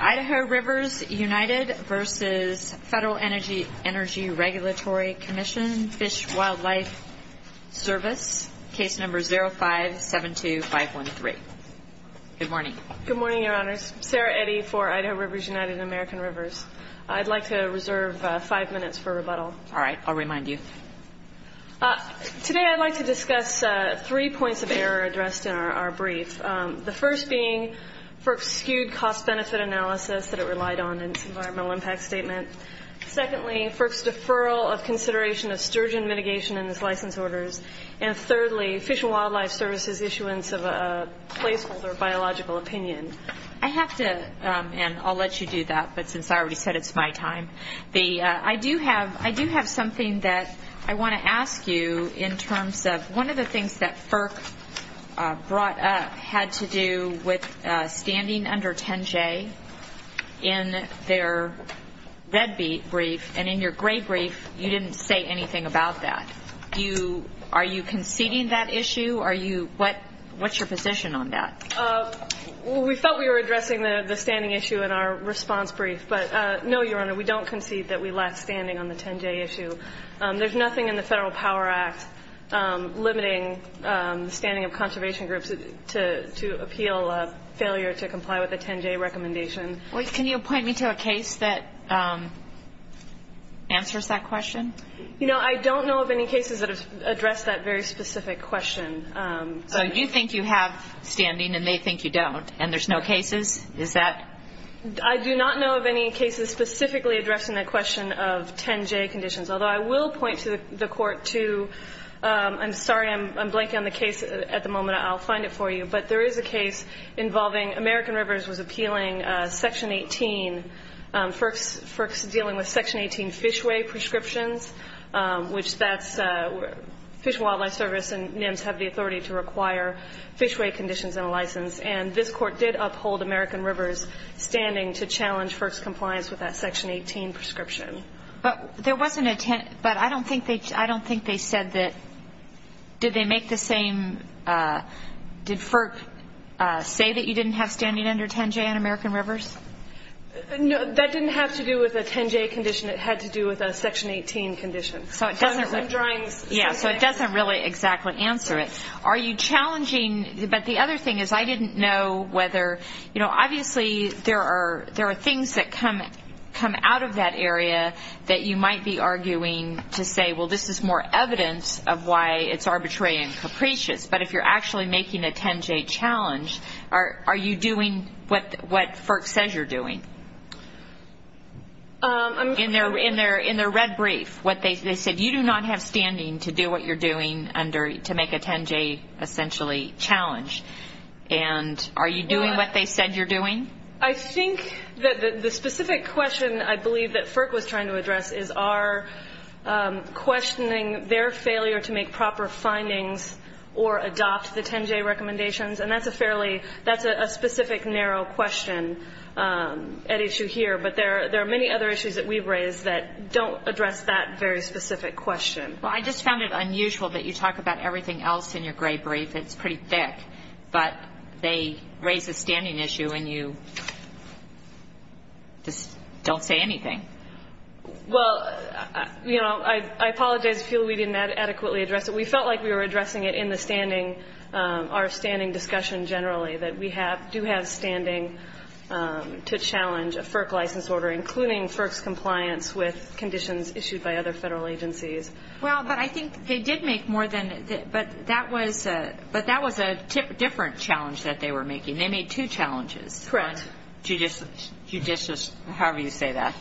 Idaho Rivers United v. FEDERAL ENERGY REGULATORY COMMISSION FISH WILDLIFE SERVICE 0572513 Good morning, your honors. Sarah Eddy for Idaho Rivers United and American Rivers. I'd like to reserve five minutes for rebuttal. All right, I'll remind you. Today I'd like to discuss three points of error addressed in our brief. The first being FERC's skewed cost-benefit analysis that it relied on in its environmental impact statement. Secondly, FERC's deferral of consideration of sturgeon mitigation in its license orders. And thirdly, Fish and Wildlife Service's issuance of a placeholder biological opinion. I have to, and I'll let you do that, but since I already said it's my time, I do have something that I want to ask you in terms of one of the things that FERC brought up had to do with standing under 10-J in their red brief. And in your gray brief, you didn't say anything about that. Are you conceding that issue? What's your position on that? We felt we were addressing the standing issue in our response brief. But no, Your Honor, we don't concede that we lack standing on the 10-J issue. There's nothing in the Federal Power Act limiting the standing of conservation groups to appeal a failure to comply with a 10-J recommendation. Can you point me to a case that answers that question? You know, I don't know of any cases that address that very specific question. So you think you have standing and they think you don't, and there's no cases? Is that? I do not know of any cases specifically addressing that question of 10-J conditions, although I will point to the Court to — I'm sorry, I'm blanking on the case at the moment. I'll find it for you. But there is a case involving — American Rivers was appealing Section 18, FERC's dealing with Section 18 fishway prescriptions, which that's — Fish and Wildlife Service and NIMS have the authority to require fishway conditions and a license. And this Court did uphold American Rivers' standing to challenge FERC's compliance with that Section 18 prescription. But there wasn't a 10 — but I don't think they said that — did they make the same — did FERC say that you didn't have standing under 10-J on American Rivers? No, that didn't have to do with a 10-J condition. It had to do with a Section 18 condition. So it doesn't — I'm trying — Yeah, so it doesn't really exactly answer it. Are you challenging — but the other thing is I didn't know whether — you know, obviously there are things that come out of that area that you might be arguing to say, well, this is more evidence of why it's arbitrary and capricious. But if you're actually making a 10-J challenge, are you doing what FERC says you're doing? In their red brief, what they said, you do not have standing to do what you're doing under — to make a 10-J essentially challenge. And are you doing what they said you're doing? I think that the specific question I believe that FERC was trying to address is, are questioning their failure to make proper findings or adopt the 10-J recommendations? And that's a fairly — that's a specific, narrow question at issue here. But there are many other issues that we've raised that don't address that very specific question. Well, I just found it unusual that you talk about everything else in your gray brief. It's pretty thick. But they raise the standing issue, and you just don't say anything. Well, you know, I apologize if you feel we didn't adequately address it. We felt like we were addressing it in the standing — our standing discussion generally, that we do have standing to challenge a FERC license order, including FERC's compliance with conditions issued by other federal agencies. Well, but I think they did make more than — but that was a different challenge that they were making. They made two challenges. Correct. On to judicious — however you say that.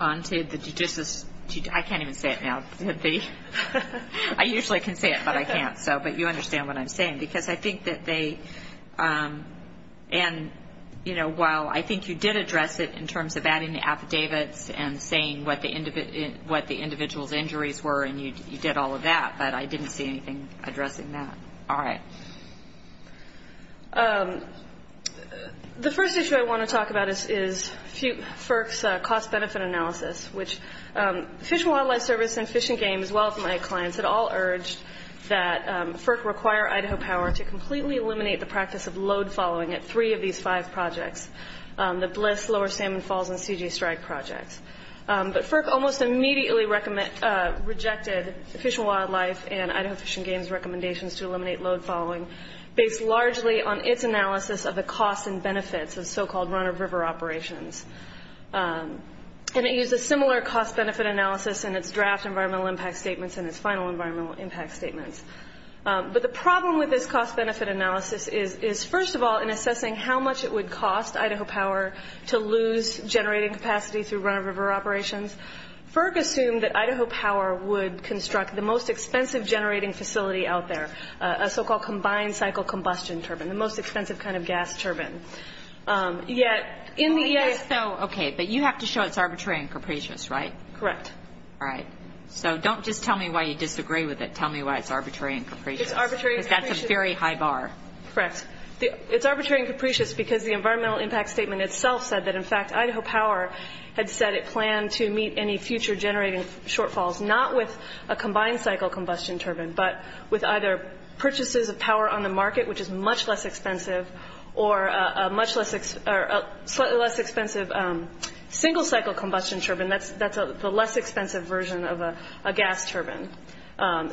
On to the judicious — I can't even say it now. I usually can say it, but I can't. But you understand what I'm saying, because I think that they — and, you know, while I think you did address it in terms of adding the affidavits and saying what the individual's injuries were, and you did all of that, but I didn't see anything addressing that. All right. The first issue I want to talk about is FERC's cost-benefit analysis, which Fish and Wildlife Service and Fish and Game, as well as my clients, had all urged that FERC require Idaho power to completely eliminate the practice of load following at three of these five projects, the Bliss, Lower Salmon Falls, and CG Strike projects. But FERC almost immediately rejected Fish and Wildlife and Idaho Fish and Game's recommendations to eliminate load following, based largely on its analysis of the costs and benefits of so-called run-of-river operations. And it used a similar cost-benefit analysis in its draft environmental impact statements and its final environmental impact statements. But the problem with this cost-benefit analysis is, first of all, in assessing how much it would cost Idaho power to lose generating capacity through run-of-river operations, FERC assumed that Idaho power would construct the most expensive generating facility out there, a so-called combined cycle combustion turbine, the most expensive kind of gas turbine. Yet in the — So, okay, but you have to show it's arbitrary and capricious, right? Correct. All right. So don't just tell me why you disagree with it. Tell me why it's arbitrary and capricious. It's arbitrary and capricious. Because that's a very high bar. Correct. It's arbitrary and capricious because the environmental impact statement itself said that, in fact, Idaho power had said it planned to meet any future generating shortfalls, not with a combined cycle combustion turbine, but with either purchases of power on the market, which is much less expensive, or a much less — or a slightly less expensive single cycle combustion turbine. That's the less expensive version of a gas turbine.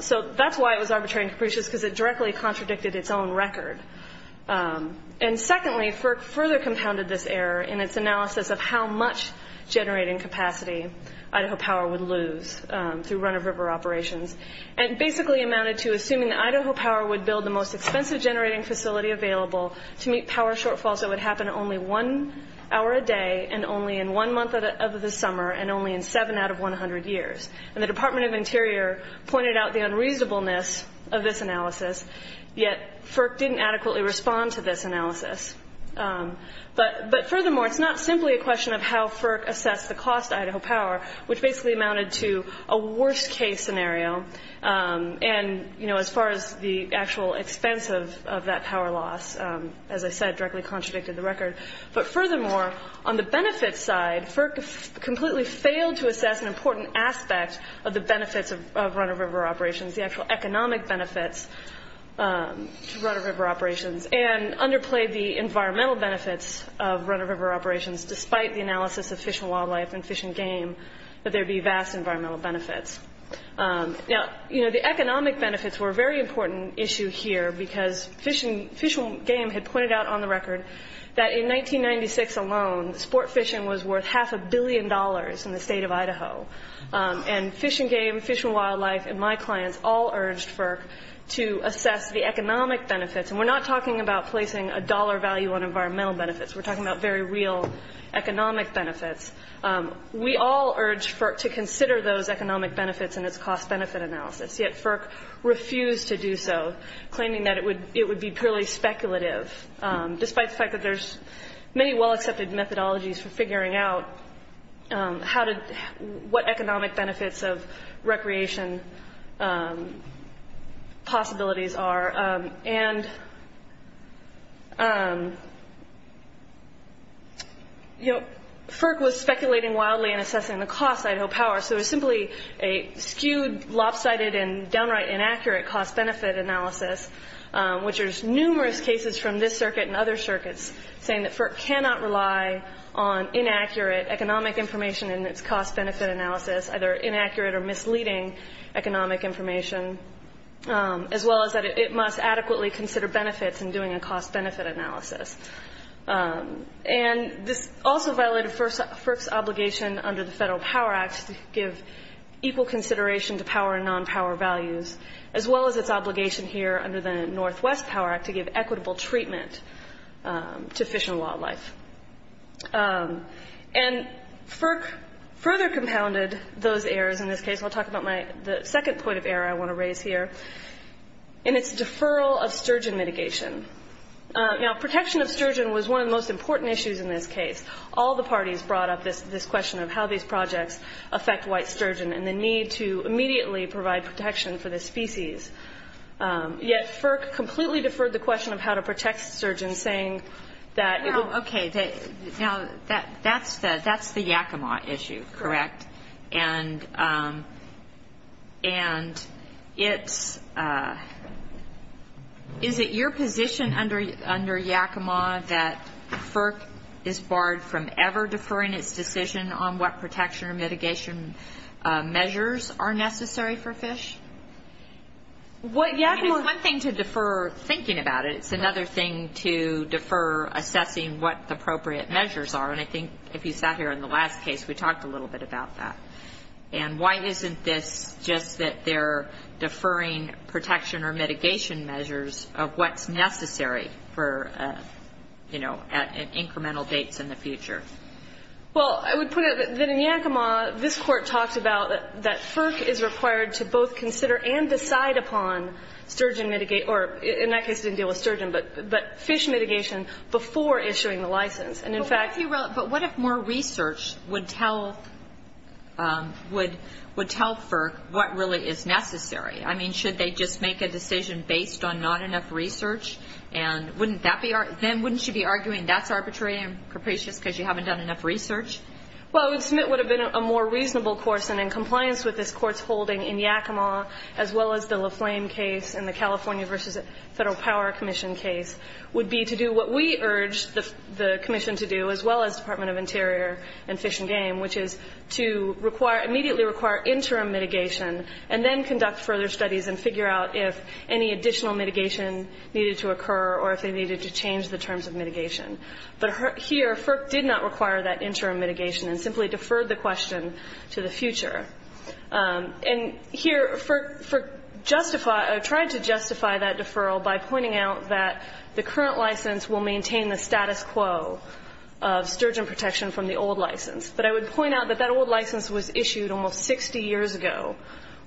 So that's why it was arbitrary and capricious, because it directly contradicted its own record. And secondly, FERC further compounded this error in its analysis of how much generating capacity Idaho power would lose through run-of-river operations, and basically amounted to assuming that Idaho power would build the most expensive generating facility available to meet power shortfalls that would happen only one hour a day and only in one month of the summer, and only in seven out of 100 years. And the Department of Interior pointed out the unreasonableness of this analysis, yet FERC didn't adequately respond to this analysis. But furthermore, it's not simply a question of how FERC assessed the cost to Idaho power, which basically amounted to a worst-case scenario. And, you know, as far as the actual expense of that power loss, as I said, directly contradicted the record. But furthermore, on the benefits side, FERC completely failed to assess an important aspect of the benefits of run-of-river operations, the actual economic benefits to run-of-river operations, and underplayed the environmental benefits of run-of-river operations, despite the analysis of Fish and Wildlife and Fish and Game, that there would be vast environmental benefits. Now, you know, the economic benefits were a very important issue here, because Fish and Game had pointed out on the record that in 1996 alone, sport fishing was worth half a billion dollars in the state of Idaho. And Fish and Game, Fish and Wildlife, and my clients all urged FERC to assess the economic benefits. And we're not talking about placing a dollar value on environmental benefits. We're talking about very real economic benefits. We all urged FERC to consider those economic benefits in its cost-benefit analysis, yet FERC refused to do so, claiming that it would be purely speculative, despite the fact that there's many well-accepted methodologies for figuring out what economic benefits of recreation possibilities are. And, you know, FERC was speculating wildly in assessing the cost of Idaho Power, so it was simply a skewed, lopsided, and downright inaccurate cost-benefit analysis, which there's numerous cases from this circuit and other circuits, saying that FERC cannot rely on inaccurate economic information in its cost-benefit analysis, either inaccurate or misleading economic information, as well as that it must adequately consider benefits in doing a cost-benefit analysis. And this also violated FERC's obligation under the Federal Power Act to give equal consideration to power and non-power values, as well as its obligation here under the Northwest Power Act to give equitable treatment to fish and wildlife. And FERC further compounded those errors in this case. I'll talk about the second point of error I want to raise here, and it's deferral of sturgeon mitigation. Now, protection of sturgeon was one of the most important issues in this case. All the parties brought up this question of how these projects affect white sturgeon and the need to immediately provide protection for this species. Yet FERC completely deferred the question of how to protect sturgeon, saying that it would be. Okay. Correct. And it's — is it your position under Yakima that FERC is barred from ever deferring its decision on what protection or mitigation measures are necessary for fish? What Yakima — I mean, it's one thing to defer thinking about it. It's another thing to defer assessing what the appropriate measures are. And I think if you sat here in the last case, we talked a little bit about that. And why isn't this just that they're deferring protection or mitigation measures of what's necessary for, you know, incremental dates in the future? Well, I would put it that in Yakima, this Court talked about that FERC is required to both consider and decide upon sturgeon — or in that case it didn't deal with sturgeon, but fish mitigation before issuing the license. And in fact — But what if more research would tell — would tell FERC what really is necessary? I mean, should they just make a decision based on not enough research? And wouldn't that be — then wouldn't you be arguing that's arbitrary and capricious because you haven't done enough research? Well, I would submit what would have been a more reasonable course, and in compliance with this Court's holding in Yakima, as well as the La Flame case and the California v. Federal Power Commission case, would be to do what we urged the commission to do, as well as Department of Interior and Fish and Game, which is to require — immediately require interim mitigation and then conduct further studies and figure out if any additional mitigation needed to occur or if they needed to change the terms of mitigation. But here, FERC did not require that interim mitigation and simply deferred the question to the future. And here, FERC justified — tried to justify that deferral by pointing out that the current license will maintain the status quo of sturgeon protection from the old license. But I would point out that that old license was issued almost 60 years ago,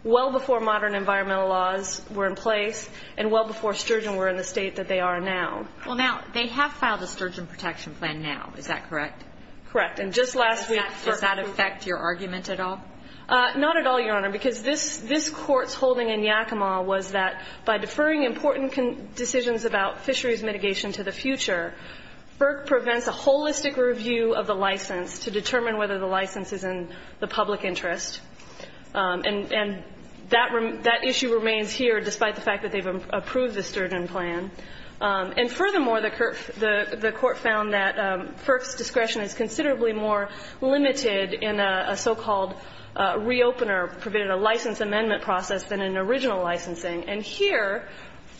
well before modern environmental laws were in place and well before sturgeon were in the state that they are now. Well, now, they have filed a sturgeon protection plan now. Is that correct? Correct. And just last week — Does that affect your argument at all? Not at all, Your Honor, because this Court's holding in Yakima was that by deferring important decisions about fisheries mitigation to the future, FERC prevents a holistic review of the license to determine whether the license is in the public interest. And that issue remains here despite the fact that they've approved the sturgeon plan. And furthermore, the Court found that FERC's discretion is considerably more limited in a so-called re-opener, provided a license amendment process than in original licensing. And here,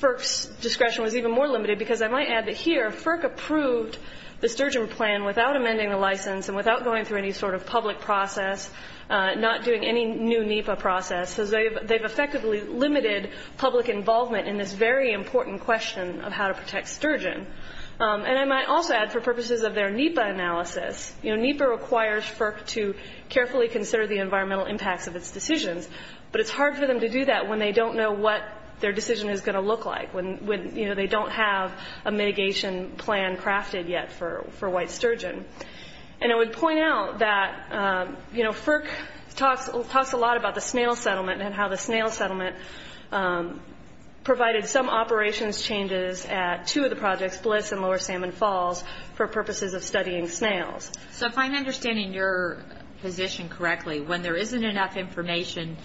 FERC's discretion was even more limited because I might add that here, FERC approved the sturgeon plan without amending the license and without going through any sort of public process, not doing any new NEPA process, because they've effectively limited public involvement in this very important question of how to protect sturgeon. And I might also add, for purposes of their NEPA analysis, NEPA requires FERC to carefully consider the environmental impacts of its decisions, but it's hard for them to do that when they don't know what their decision is going to look like, when they don't have a mitigation plan crafted yet for white sturgeon. And I would point out that, you know, FERC talks a lot about the snail settlement and how the snail settlement provided some operations changes at two of the projects, Bliss and Lower Salmon Falls, for purposes of studying snails. So if I'm understanding your position correctly, when there isn't enough information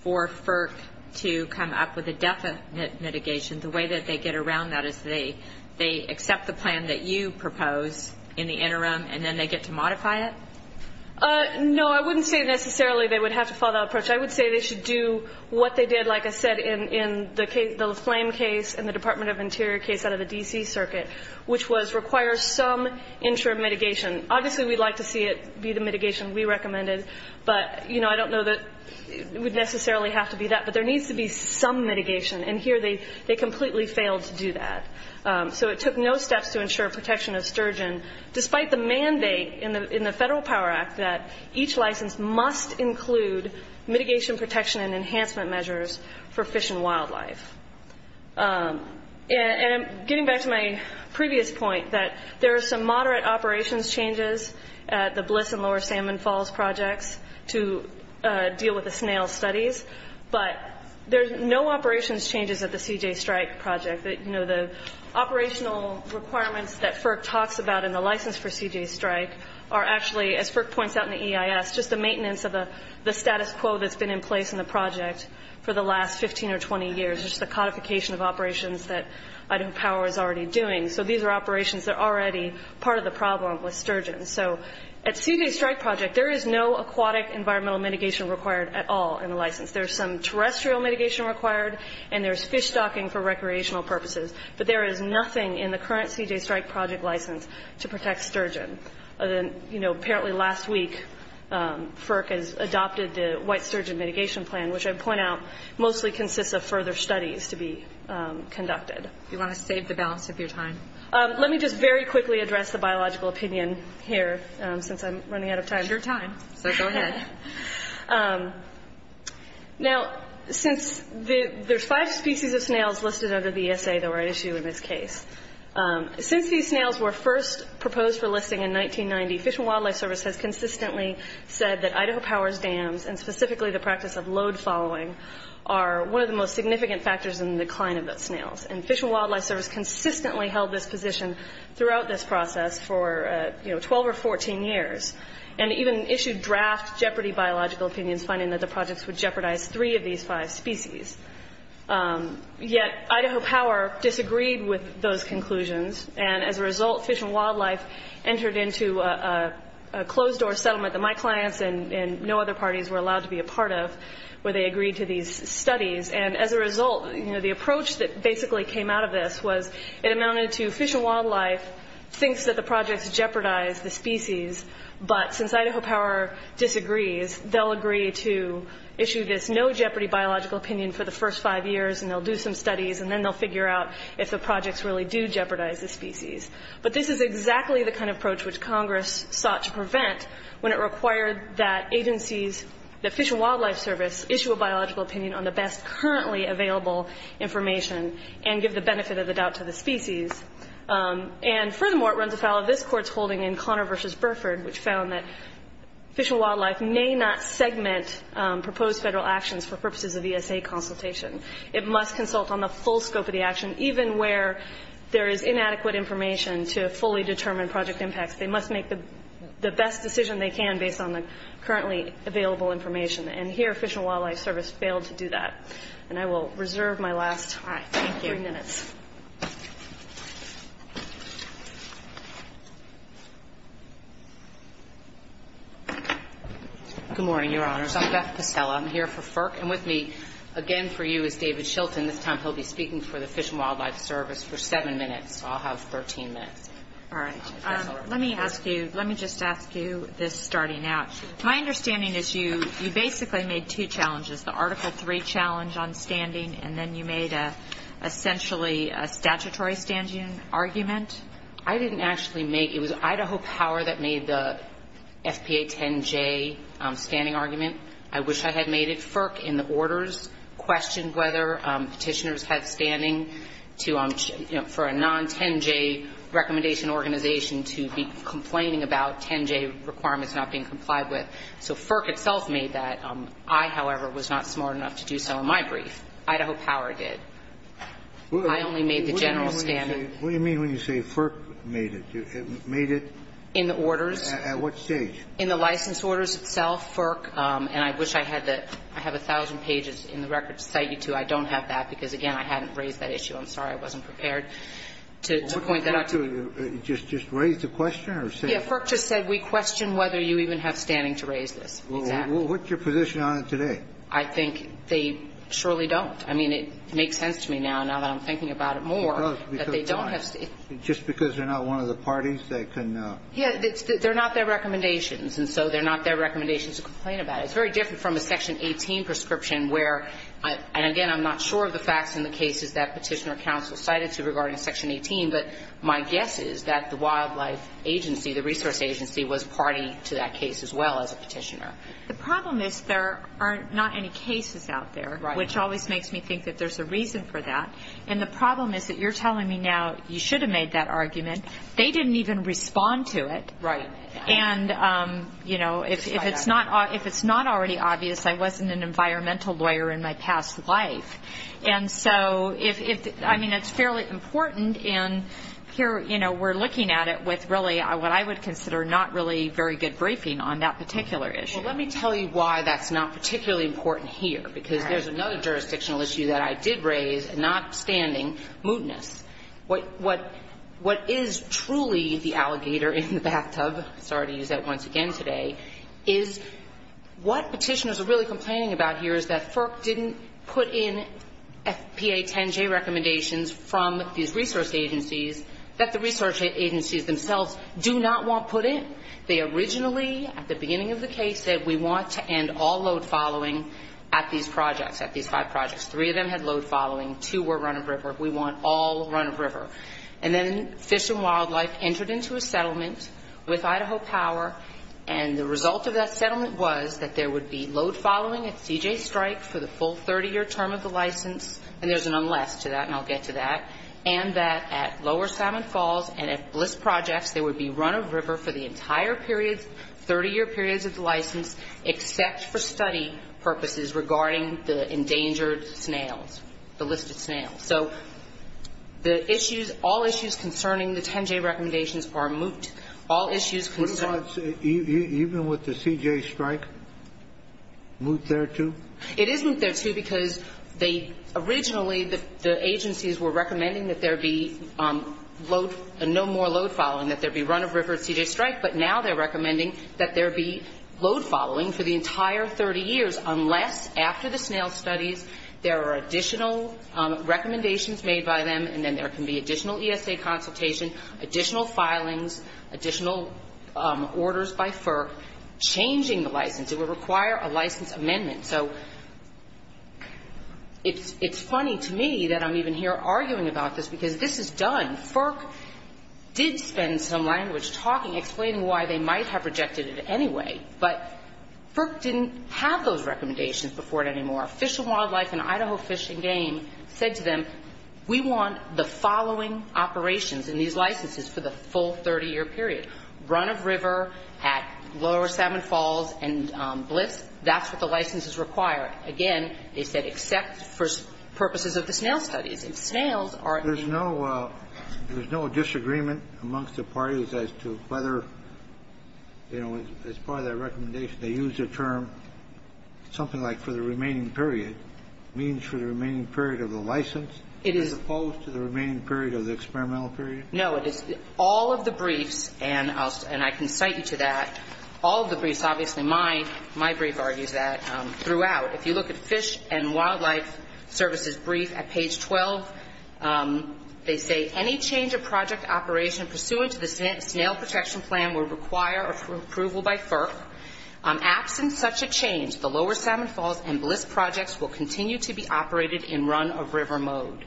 for FERC to come up with a definite mitigation, the way that they get around that is they accept the plan that you propose in the interim, and then they get to modify it? No, I wouldn't say necessarily they would have to follow that approach. I would say they should do what they did, like I said, in the flame case and the Department of Interior case out of the D.C. Circuit, which was require some interim mitigation. Obviously, we'd like to see it be the mitigation we recommended, but, you know, I don't know that it would necessarily have to be that. But there needs to be some mitigation, and here they completely failed to do that. So it took no steps to ensure protection of sturgeon, despite the mandate in the Federal Power Act that each license must include mitigation protection and enhancement measures for fish and wildlife. And getting back to my previous point, that there are some moderate operations changes at the Bliss and Lower Salmon Falls projects to deal with the snail studies, but there's no operations changes at the CJ Strike project. You know, the operational requirements that FERC talks about in the license for CJ Strike are actually, as FERC points out in the EIS, just the maintenance of the status quo that's been in place in the project for the last 15 or 20 years, just the codification of operations that Idaho Power is already doing. So these are operations that are already part of the problem with sturgeon. So at CJ Strike project, there is no aquatic environmental mitigation required at all in the license. There's some terrestrial mitigation required, and there's fish stocking for recreational purposes. But there is nothing in the current CJ Strike project license to protect sturgeon. You know, apparently last week, FERC has adopted the white sturgeon mitigation plan, which I point out mostly consists of further studies to be conducted. If you want to save the balance of your time. Let me just very quickly address the biological opinion here, since I'm running out of time. It's your time, so go ahead. Now, since there's five species of snails listed under the ESA, the right issue in this case. Since these snails were first proposed for listing in 1990, Fish and Wildlife Service has consistently said that Idaho Power's dams, and specifically the practice of load following, are one of the most significant factors in the decline of those snails. And Fish and Wildlife Service consistently held this position throughout this process for, you know, 12 or 14 years. And even issued draft jeopardy biological opinions, finding that the projects would jeopardize three of these five species. Yet Idaho Power disagreed with those conclusions. And as a result, Fish and Wildlife entered into a closed-door settlement that my clients and no other parties were allowed to be a part of, where they agreed to these studies. And as a result, you know, the approach that basically came out of this was, it amounted to Fish and Wildlife thinks that the projects jeopardize the species, but since Idaho Power disagrees, they'll agree to issue this no jeopardy biological opinion for the first five years, and they'll do some studies, and then they'll figure out if the projects really do jeopardize the species. But this is exactly the kind of approach which Congress sought to prevent when it required that agencies, that Fish and Wildlife Service, issue a biological opinion on the best currently available information and give the benefit of the doubt to the species. And furthermore, it runs afoul of this Court's holding in Connor v. Burford, which found that Fish and Wildlife may not segment proposed federal actions for purposes of ESA consultation. It must consult on the full scope of the action, even where there is inadequate information to fully determine project impacts. They must make the best decision they can based on the currently available information. And here, Fish and Wildlife Service failed to do that. And I will reserve my last three minutes. Good morning, Your Honors. I'm Beth Pestella. I'm here for FERC, and with me again for you is David Shilton. This time he'll be speaking for the Fish and Wildlife Service for seven minutes. I'll have 13 minutes. All right. Let me ask you, let me just ask you this starting out. My understanding is you basically made two challenges, the Article III challenge on standing, and then you made essentially a statutory standing argument? I didn't actually make it. It was Idaho Power that made the FPA 10J standing argument. I wish I had made it. I don't know if you know, but Idaho Power, in the orders, questioned whether Petitioners had standing to for a non-10J recommendation organization to be complaining about 10J requirements not being complied with. So FERC itself made that. I, however, was not smart enough to do so in my brief. Idaho Power did. I only made the general standing. What do you mean when you say FERC made it? Made it at what stage? In the orders. In the orders itself, FERC, and I wish I had the – I have 1,000 pages in the record to cite you to. I don't have that because, again, I hadn't raised that issue. I'm sorry I wasn't prepared to point that out to you. Just raise the question or say it? Yeah. FERC just said we question whether you even have standing to raise this. Exactly. What's your position on it today? I think they surely don't. I mean, it makes sense to me now, now that I'm thinking about it more, that they don't have standing. Just because they're not one of the parties, they can – Yeah, they're not their recommendations, and so they're not their recommendations to complain about. It's very different from a Section 18 prescription where – and, again, I'm not sure of the facts in the cases that Petitioner Counsel cited to regarding Section 18, but my guess is that the wildlife agency, the resource agency, was party to that case as well as a petitioner. The problem is there are not any cases out there, which always makes me think that there's a reason for that. And the problem is that you're telling me now you should have made that argument. They didn't even respond to it. Right. And, you know, if it's not – if it's not already obvious, I wasn't an environmental lawyer in my past life. And so if – I mean, it's fairly important, and here, you know, we're looking at it with really what I would consider not really very good briefing on that particular issue. Well, let me tell you why that's not particularly important here, because there's another jurisdictional issue that I did raise, not standing, mootness. What is truly the alligator in the bathtub – sorry to use that once again today – is what Petitioners are really complaining about here is that FERC didn't put in FPA 10-J recommendations from these resource agencies that the resource agencies themselves do not want put in. They originally, at the beginning of the case, said we want to end all load following at these projects, at these five projects. Three of them had load following. Two were run-of-river. We want all run-of-river. And then Fish and Wildlife entered into a settlement with Idaho Power, and the result of that settlement was that there would be load following at CJ Strike for the full 30-year term of the license – and there's an unless to that, and I'll get to that – and that at Lower Salmon Falls and at Bliss Projects, there would be run-of-river for the entire periods, 30-year periods of the license, except for study purposes regarding the endangered snails, the listed snails. So the issues – all issues concerning the 10-J recommendations are moot. All issues concern – What about even with the CJ Strike? Moot thereto? It isn't thereto because they – originally, the agencies were recommending that there be load – no more load following, that there be run-of-river at CJ Strike. But now they're recommending that there be load following for the entire 30 years unless, after the snail studies, there are additional recommendations made by them and then there can be additional ESA consultation, additional filings, additional orders by FERC changing the license. It would require a license amendment. So it's funny to me that I'm even here arguing about this because this is done. FERC did spend some language talking, explaining why they might have rejected it anyway. But FERC didn't have those recommendations before it anymore. Fish and Wildlife and Idaho Fish and Game said to them, we want the following operations in these licenses for the full 30-year period, run-of-river at Lower Salmon Falls and Blitz. That's what the licenses require. Again, they said except for purposes of the snail studies. And snails are – There's no – there's no disagreement amongst the parties as to whether, you know, as part of their recommendation, they used a term, something like for the remaining period, means for the remaining period of the license as opposed to the remaining period of the experimental period? No. All of the briefs, and I can cite you to that, all of the briefs, obviously, my brief argues that throughout, if you look at Fish and Wildlife Services' brief at page 12, they say any change of project operation pursuant to the snail protection plan would require approval by FERC. Absent such a change, the Lower Salmon Falls and Blitz projects will continue to be operated in run-of-river mode.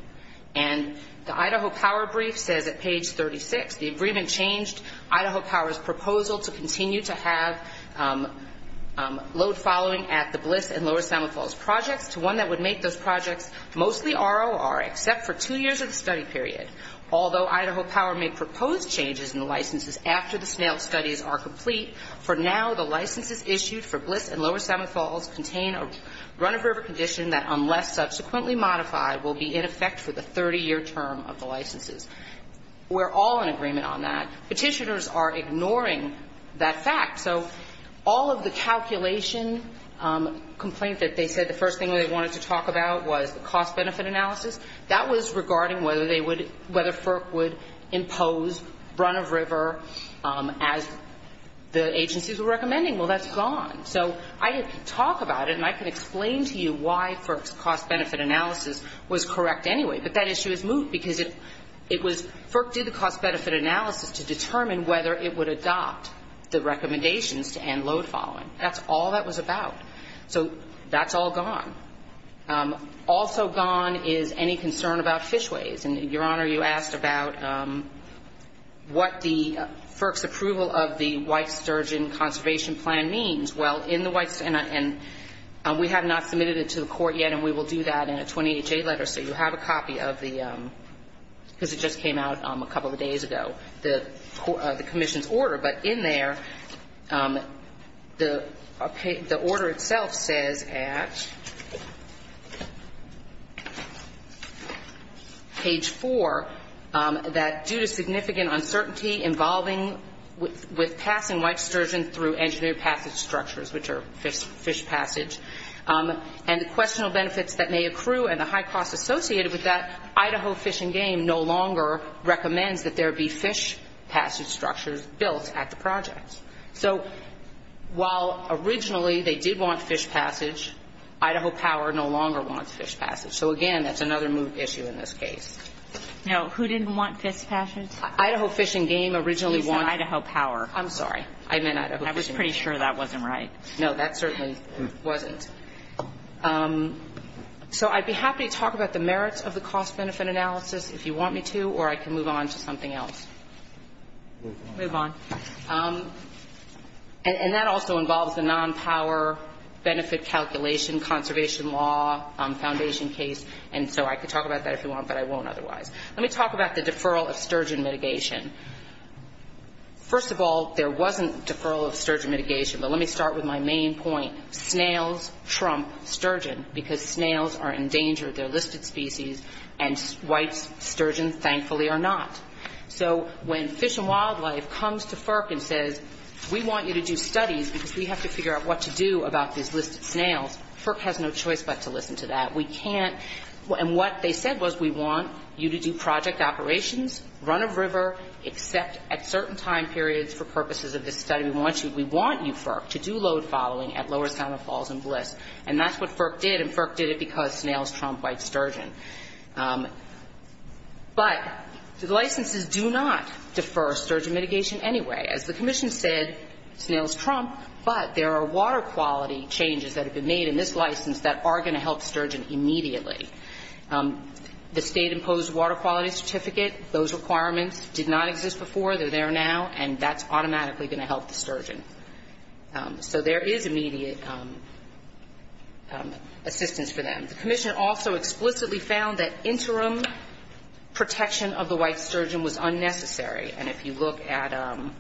And the Idaho Power brief says at page 36, the agreement changed Idaho Power's proposal to continue to have load following at the Blitz and Lower Salmon Falls projects to one that would make those projects mostly ROR, except for two years of the study period. Although Idaho Power may propose changes in the licenses after the snail studies are complete, for now, the licenses issued for Blitz and Lower Salmon Falls contain a run-of-river condition that, unless subsequently modified, will be in effect for the 30-year term of the licenses. We're all in agreement on that. Petitioners are ignoring that fact. So all of the calculation complaint that they said the first thing they wanted to talk about was the cost-benefit analysis, that was regarding whether they would, whether FERC would impose run-of-river as the agencies were recommending. Well, that's gone. So I could talk about it and I could explain to you why FERC's cost-benefit analysis was correct anyway, but that issue is moot because it was, FERC did the cost-benefit analysis to determine whether it would adopt the recommendations to end load following. That's all that was about. So that's all gone. Also gone is any concern about fishways. And, Your Honor, you asked about what the FERC's approval of the White Sturgeon Conservation Plan means. Well, in the White Sturgeon, and we have not submitted it to the court yet, and we will do that in a 20HA letter, so you have a copy of the, because it just came out a couple of days ago, the commission's order. But in there, the order itself says at page 4 that due to significant uncertainty involving with passing White Sturgeon through engineered passage structures, which are fish passage, and the questionable benefits that may accrue and the high cost associated with that, Idaho Fish and Game no longer recommends that there be fish passage structures built at the project. So while originally they did want fish passage, Idaho Power no longer wants fish passage. So, again, that's another moot issue in this case. Now, who didn't want fish passage? Idaho Fish and Game originally wanted to. You said Idaho Power. I'm sorry. I meant Idaho Fish and Game. I was pretty sure that wasn't right. No, that certainly wasn't. So I'd be happy to talk about the merits of the cost-benefit analysis if you want me to, or I can move on to something else. Move on. Move on. And that also involves the non-power benefit calculation conservation law foundation case. And so I could talk about that if you want, but I won't otherwise. Let me talk about the deferral of sturgeon mitigation. First of all, there wasn't deferral of sturgeon mitigation, but let me start with my main point. Snails trump sturgeon because snails are endangered. They're listed species, and white sturgeon, thankfully, are not. So when Fish and Wildlife comes to FERC and says, we want you to do studies because we have to figure out what to do about these listed snails, FERC has no choice but to listen to that. We can't. And what they said was, we want you to do project operations, run a river, except at certain time periods for purposes of this study. We want you, we want you, FERC, to do load following at Lower Santa Falls and Bliss. And that's what FERC did, and FERC did it because snails trump white sturgeon. But the licenses do not defer sturgeon mitigation anyway. As the commission said, snails trump, but there are water quality changes that have been made in this license that are going to help sturgeon immediately. The state-imposed water quality certificate, those requirements did not exist before. They're there now, and that's automatically going to help the sturgeon. So there is immediate assistance for them. The commission also explicitly found that interim protection of the white sturgeon was unnecessary. And if you look at ‑‑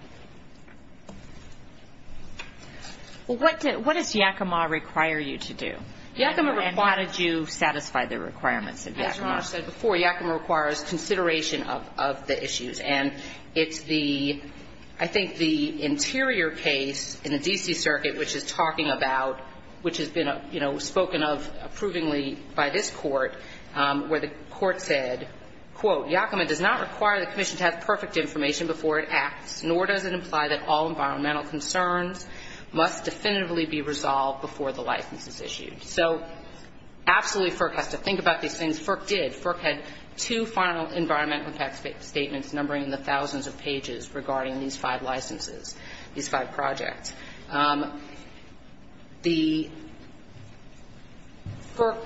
Well, what does Yakima require you to do? Yakima requires ‑‑ And how did you satisfy the requirements of Yakima? As Ron said before, Yakima requires consideration of the issues. And it's the ‑‑ I think the interior case in the D.C. Circuit, which is talking about, which has been, you know, spoken of approvingly by this court, where the court said, quote, Yakima does not require the commission to have perfect information before it acts, nor does it imply that all environmental concerns must definitively be resolved before the license is issued. So absolutely FERC has to think about these things. FERC did. FERC had two final environmental impact statements numbering the thousands of pages regarding these five licenses, these five projects. The ‑‑ FERC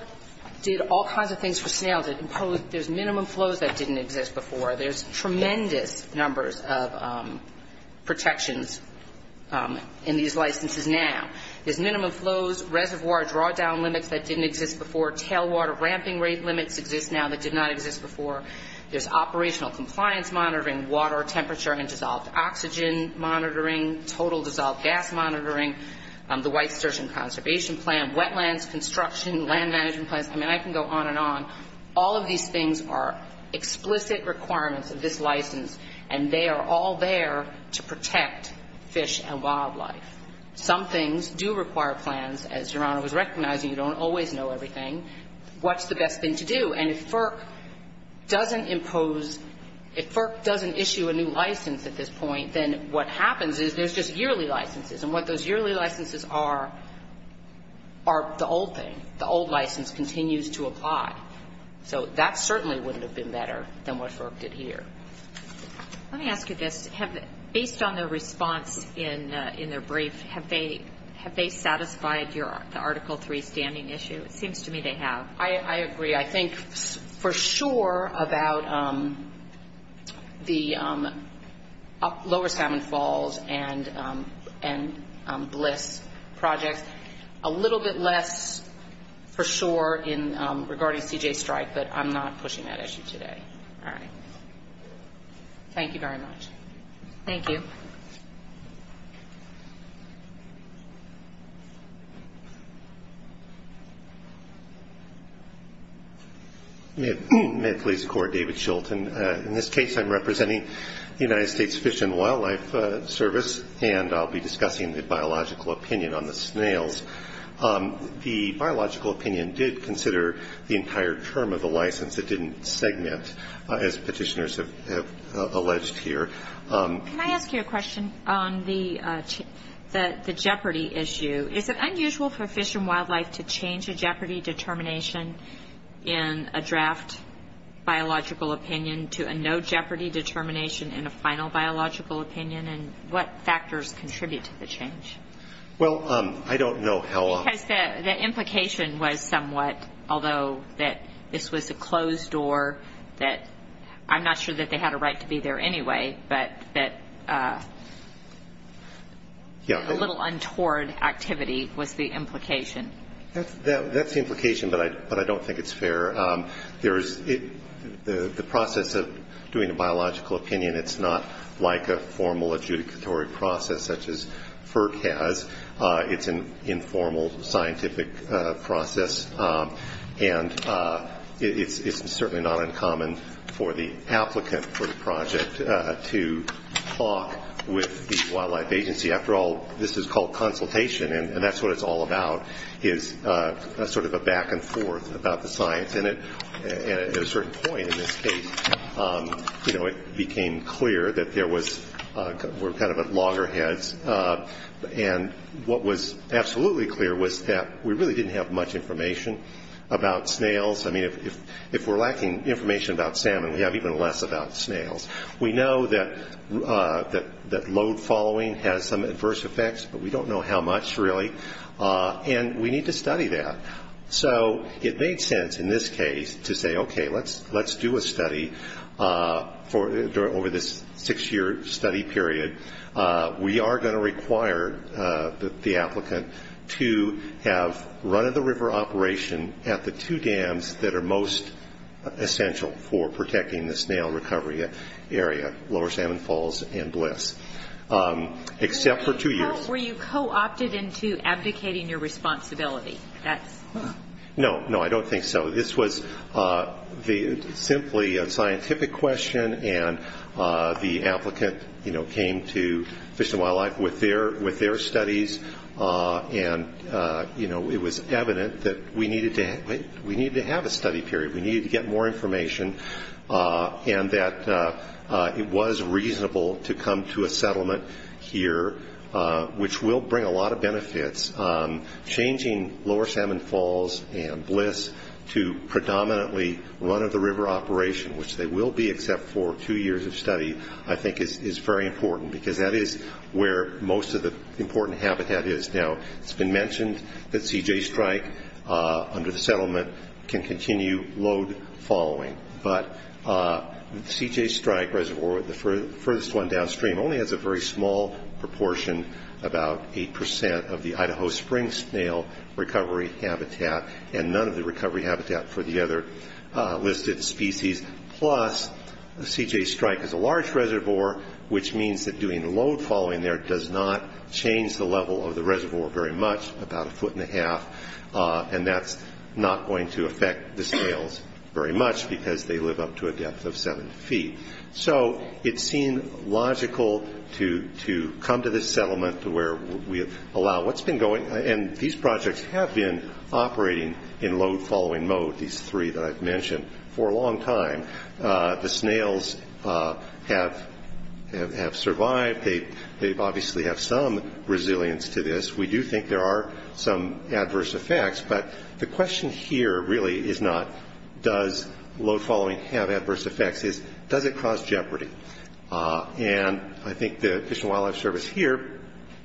did all kinds of things for snails. It imposed ‑‑ there's minimum flows that didn't exist before. There's tremendous numbers of protections in these licenses now. There's minimum flows, reservoir drawdown limits that didn't exist before, tailwater ramping rate limits exist now that did not exist before. There's operational compliance monitoring, water temperature and dissolved oxygen monitoring, total dissolved gas monitoring, the White Sturgeon Conservation Plan, wetlands, construction, land management plans. I mean, I can go on and on. All of these things are explicit requirements of this license, and they are all there to protect fish and wildlife. Some things do require plans. As Your Honor was recognizing, you don't always know everything. What's the best thing to do? And if FERC doesn't impose ‑‑ if FERC doesn't issue a new license at this point, then what happens is there's just yearly licenses. And what those yearly licenses are, are the old thing. The old license continues to apply. So that certainly wouldn't have been better than what FERC did here. Let me ask you this. Based on their response in their brief, have they satisfied the Article III standing issue? It seems to me they have. I agree. I think for sure about the Lower Salmon Falls and Bliss projects, a little bit less for sure regarding C.J. Strike, but I'm not pushing that issue today. All right. Thank you very much. Thank you. May it please the Court, David Shultz. In this case, I'm representing the United States Fish and Wildlife Service, and I'll be discussing the biological opinion on the snails. The biological opinion did consider the entire term of the license. It didn't segment, as petitioners have alleged here. Can I ask you a question on the jeopardy issue? Is it unusual for fish and wildlife to change a jeopardy determination in a draft biological opinion to a no jeopardy determination in a final biological opinion, and what factors contribute to the change? Well, I don't know how. Because the implication was somewhat, although that this was a closed door, that I'm not sure that they had a right to be there anyway, but that a little untoward activity was the implication. That's the implication, but I don't think it's fair. The process of doing a biological opinion, it's not like a formal adjudicatory process such as FERC has. It's an informal scientific process, and it's certainly not uncommon for the applicant for the project to talk with the wildlife agency. After all, this is called consultation, and that's what it's all about, is sort of a back and forth about the science. And at a certain point in this case, you know, it became clear that there were kind of loggerheads, and what was absolutely clear was that we really didn't have much information about snails. I mean, if we're lacking information about salmon, we have even less about snails. We know that load following has some adverse effects, but we don't know how much, really, and we need to study that. So it made sense in this case to say, okay, let's do a study over this six-year study period. We are going to require the applicant to have run-of-the-river operation at the two dams that are most essential for protecting the snail recovery area, Lower Salmon Falls and Bliss, except for two years. Were you co-opted into abdicating your responsibility? No, no, I don't think so. This was simply a scientific question, and the applicant came to Fish and Wildlife with their studies, and it was evident that we needed to have a study period. We needed to get more information, and that it was reasonable to come to a settlement here, which will bring a lot of benefits. Changing Lower Salmon Falls and Bliss to predominantly run-of-the-river operation, which they will be except for two years of study, I think is very important, because that is where most of the important habitat is. Now, it's been mentioned that CJ Strike, under the settlement, can continue load following, but CJ Strike Reservoir, the furthest one downstream, only has a very small proportion, about 8% of the Idaho Springs snail recovery habitat, and none of the recovery habitat for the other listed species. Plus, CJ Strike is a large reservoir, which means that doing the load following there does not change the level of the reservoir very much, about a foot and a half, and that's not going to affect the snails very much, because they live up to a depth of seven feet. So, it seemed logical to come to this settlement where we allow what's been going, and these projects have been operating in load following mode, these three that I've mentioned, for a long time. The snails have survived. They obviously have some resilience to this. We do think there are some adverse effects, but the question here really is not, does load following have adverse effects? It's, does it cause jeopardy? And I think the Fish and Wildlife Service here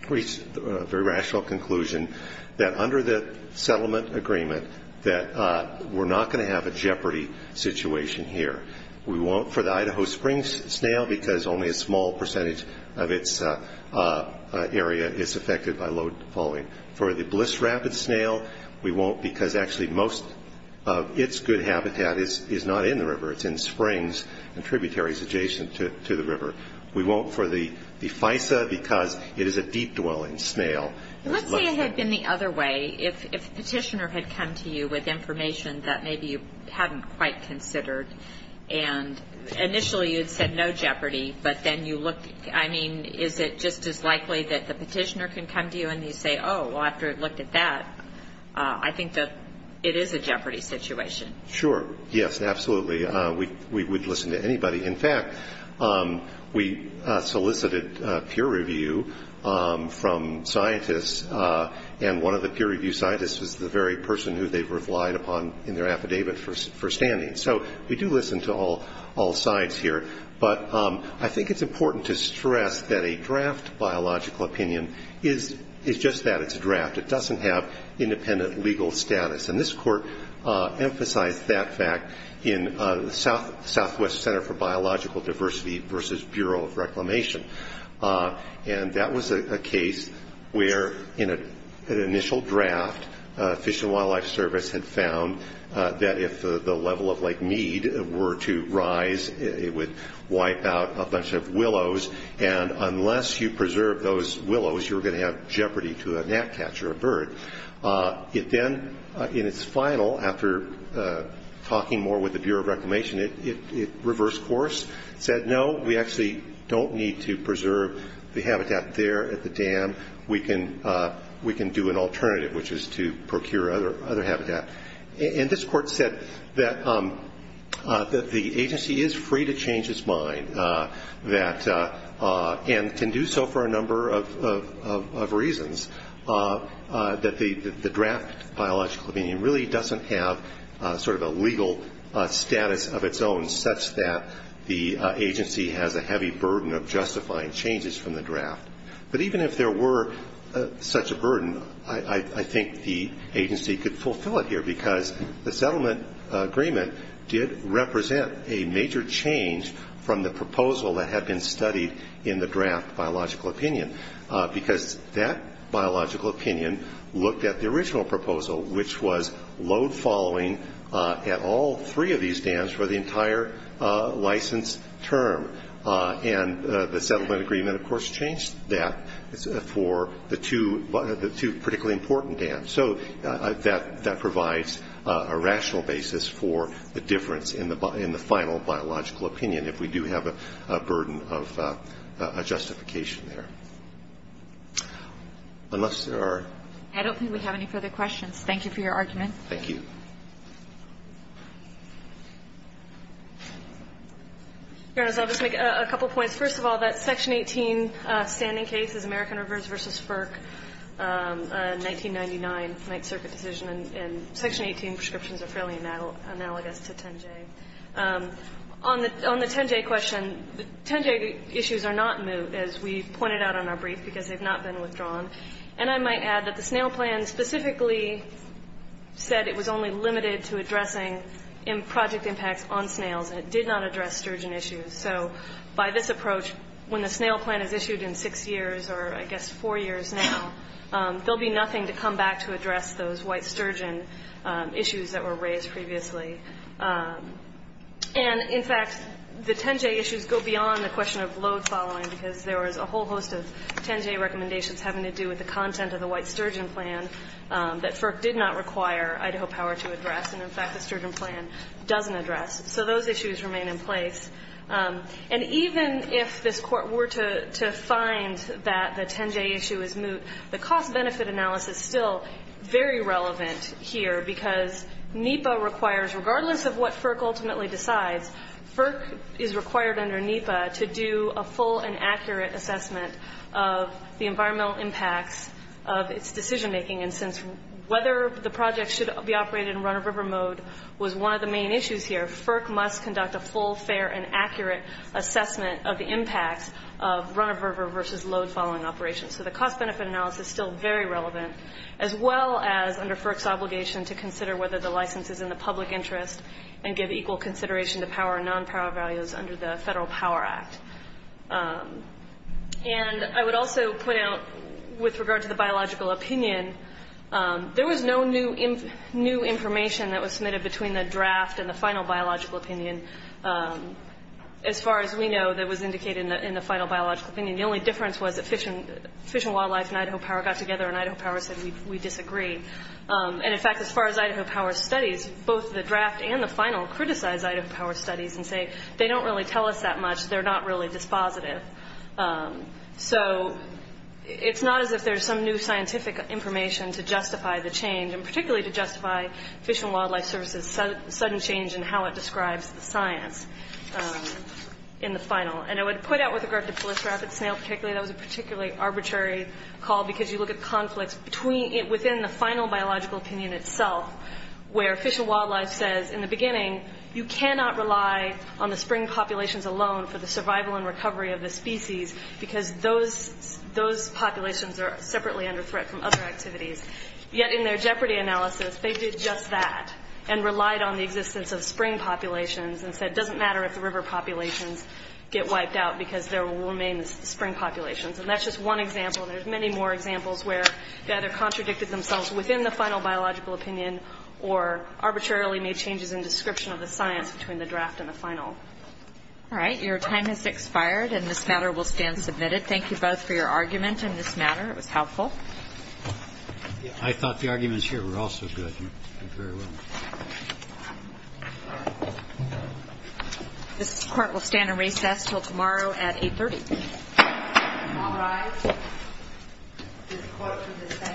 reached a very rational conclusion that under the settlement agreement, that we're not going to have a jeopardy situation here. We won't for the Idaho Springs snail, because only a small percentage of its area is affected by load following. For the Bliss Rabbit snail, we won't, because actually most of its good habitat is not in the river. It's in springs and tributaries adjacent to the river. We won't for the FISA, because it is a deep-dwelling snail. Let's say it had been the other way. If a petitioner had come to you with information that maybe you hadn't quite considered, and initially you had said no jeopardy, but then you looked, I mean, is it just as likely that the petitioner can come to you and you say, oh, well, after it looked at that, I think that it is a jeopardy situation. Sure. Yes, absolutely. We would listen to anybody. In fact, we solicited peer review from scientists, and one of the peer review scientists was the very person who they relied upon in their affidavit for standing. So we do listen to all sides here. But I think it's important to stress that a draft biological opinion is just that, it's a draft. It doesn't have independent legal status. And this court emphasized that fact in the Southwest Center for Biological Diversity versus Bureau of Reclamation. And that was a case where, in an initial draft, Fish and Wildlife Service had found that if the level of Lake Mead were to rise, it would wipe out a bunch of willows, and unless you preserved those willows, you were going to have jeopardy to a gnat catch or a bird. It then, in its final, after talking more with the Bureau of Reclamation, it reversed course, said, no, we actually don't need to preserve the habitat there at the dam. We can do an alternative, which is to procure other habitat. And this court said that the agency is free to change its mind and can do so for a number of reasons. That the draft biological opinion really doesn't have sort of a legal status of its own, such that the agency has a heavy burden of justifying changes from the draft. But even if there were such a burden, I think the agency could fulfill it here, because the settlement agreement did represent a major change from the proposal that had been studied in the draft biological opinion. Because that biological opinion looked at the original proposal, which was load following at all three of these dams for the entire license term. And the settlement agreement, of course, changed that for the two particularly important dams. So that provides a rational basis for the difference in the final biological opinion, if we do have a burden of justification there. Unless there are. I don't think we have any further questions. Thank you for your argument. Thank you. Your Honors, I'll just make a couple of points. First of all, that Section 18 standing case is American Rivers v. FERC, a 1999 Ninth Circuit decision. And Section 18 prescriptions are fairly analogous to 10J. On the 10J question, 10J issues are not moved, as we pointed out on our brief, because they've not been withdrawn. And I might add that the snail plan specifically said it was only limited to addressing project impacts on snails, and it did not address sturgeon issues. So by this approach, when the snail plan is issued in six years, or I guess four years now, there will be nothing to come back to address those white sturgeon issues that were raised previously. And, in fact, the 10J issues go beyond the question of load following, because there was a whole host of 10J recommendations having to do with the content of the white sturgeon plan that FERC did not require Idaho Power to address. And, in fact, the sturgeon plan doesn't address. So those issues remain in place. And even if this Court were to find that the 10J issue is moot, the cost-benefit analysis is still very relevant here, because NEPA requires, regardless of what FERC ultimately decides, FERC is required under NEPA to do a full and accurate assessment of the environmental impacts of its decision-making. And since whether the project should be operated in run-of-river mode was one of the main issues here, FERC must conduct a full, fair, and accurate assessment of the impacts of run-of-river versus load-following operations. So the cost-benefit analysis is still very relevant, as well as under FERC's obligation to consider whether the license is in the public interest and give equal consideration to power and non-power values under the Federal Power Act. And I would also point out, with regard to the biological opinion, there was no new information that was submitted between the draft and the final biological opinion. As far as we know, that was indicated in the final biological opinion. The only difference was that Fish and Wildlife and Idaho Power got together, and Idaho Power said, we disagree. And, in fact, as far as Idaho Power's studies, both the draft and the final criticize Idaho Power's studies and say, they don't really tell us that much, they're not really dispositive. So it's not as if there's some new scientific information to justify the change, and particularly to justify Fish and Wildlife Service's sudden change in how it describes the science in the final. And I would point out, with regard to the proliferative snail particularly, that was a particularly arbitrary call, because you look at conflicts within the final biological opinion itself, where Fish and Wildlife says, in the beginning, you cannot rely on the spring populations alone for the survival and recovery of the species, because those populations are separately under threat from other activities. Yet, in their jeopardy analysis, they did just that, and relied on the existence of spring populations and said, it doesn't matter if the river populations get wiped out, because there will remain the spring populations. And that's just one example. There's many more examples where they either contradicted themselves within the final biological opinion or arbitrarily made changes in description of the science between the draft and the final. All right. Your time has expired, and this matter will stand submitted. Thank you both for your argument in this matter. It was helpful. I thought the arguments here were also good. You did very well. All right. This Court will stand in recess until tomorrow at 830. All rise. This Court is in recess until tomorrow at 830. Thank you. Thank you. Thank you.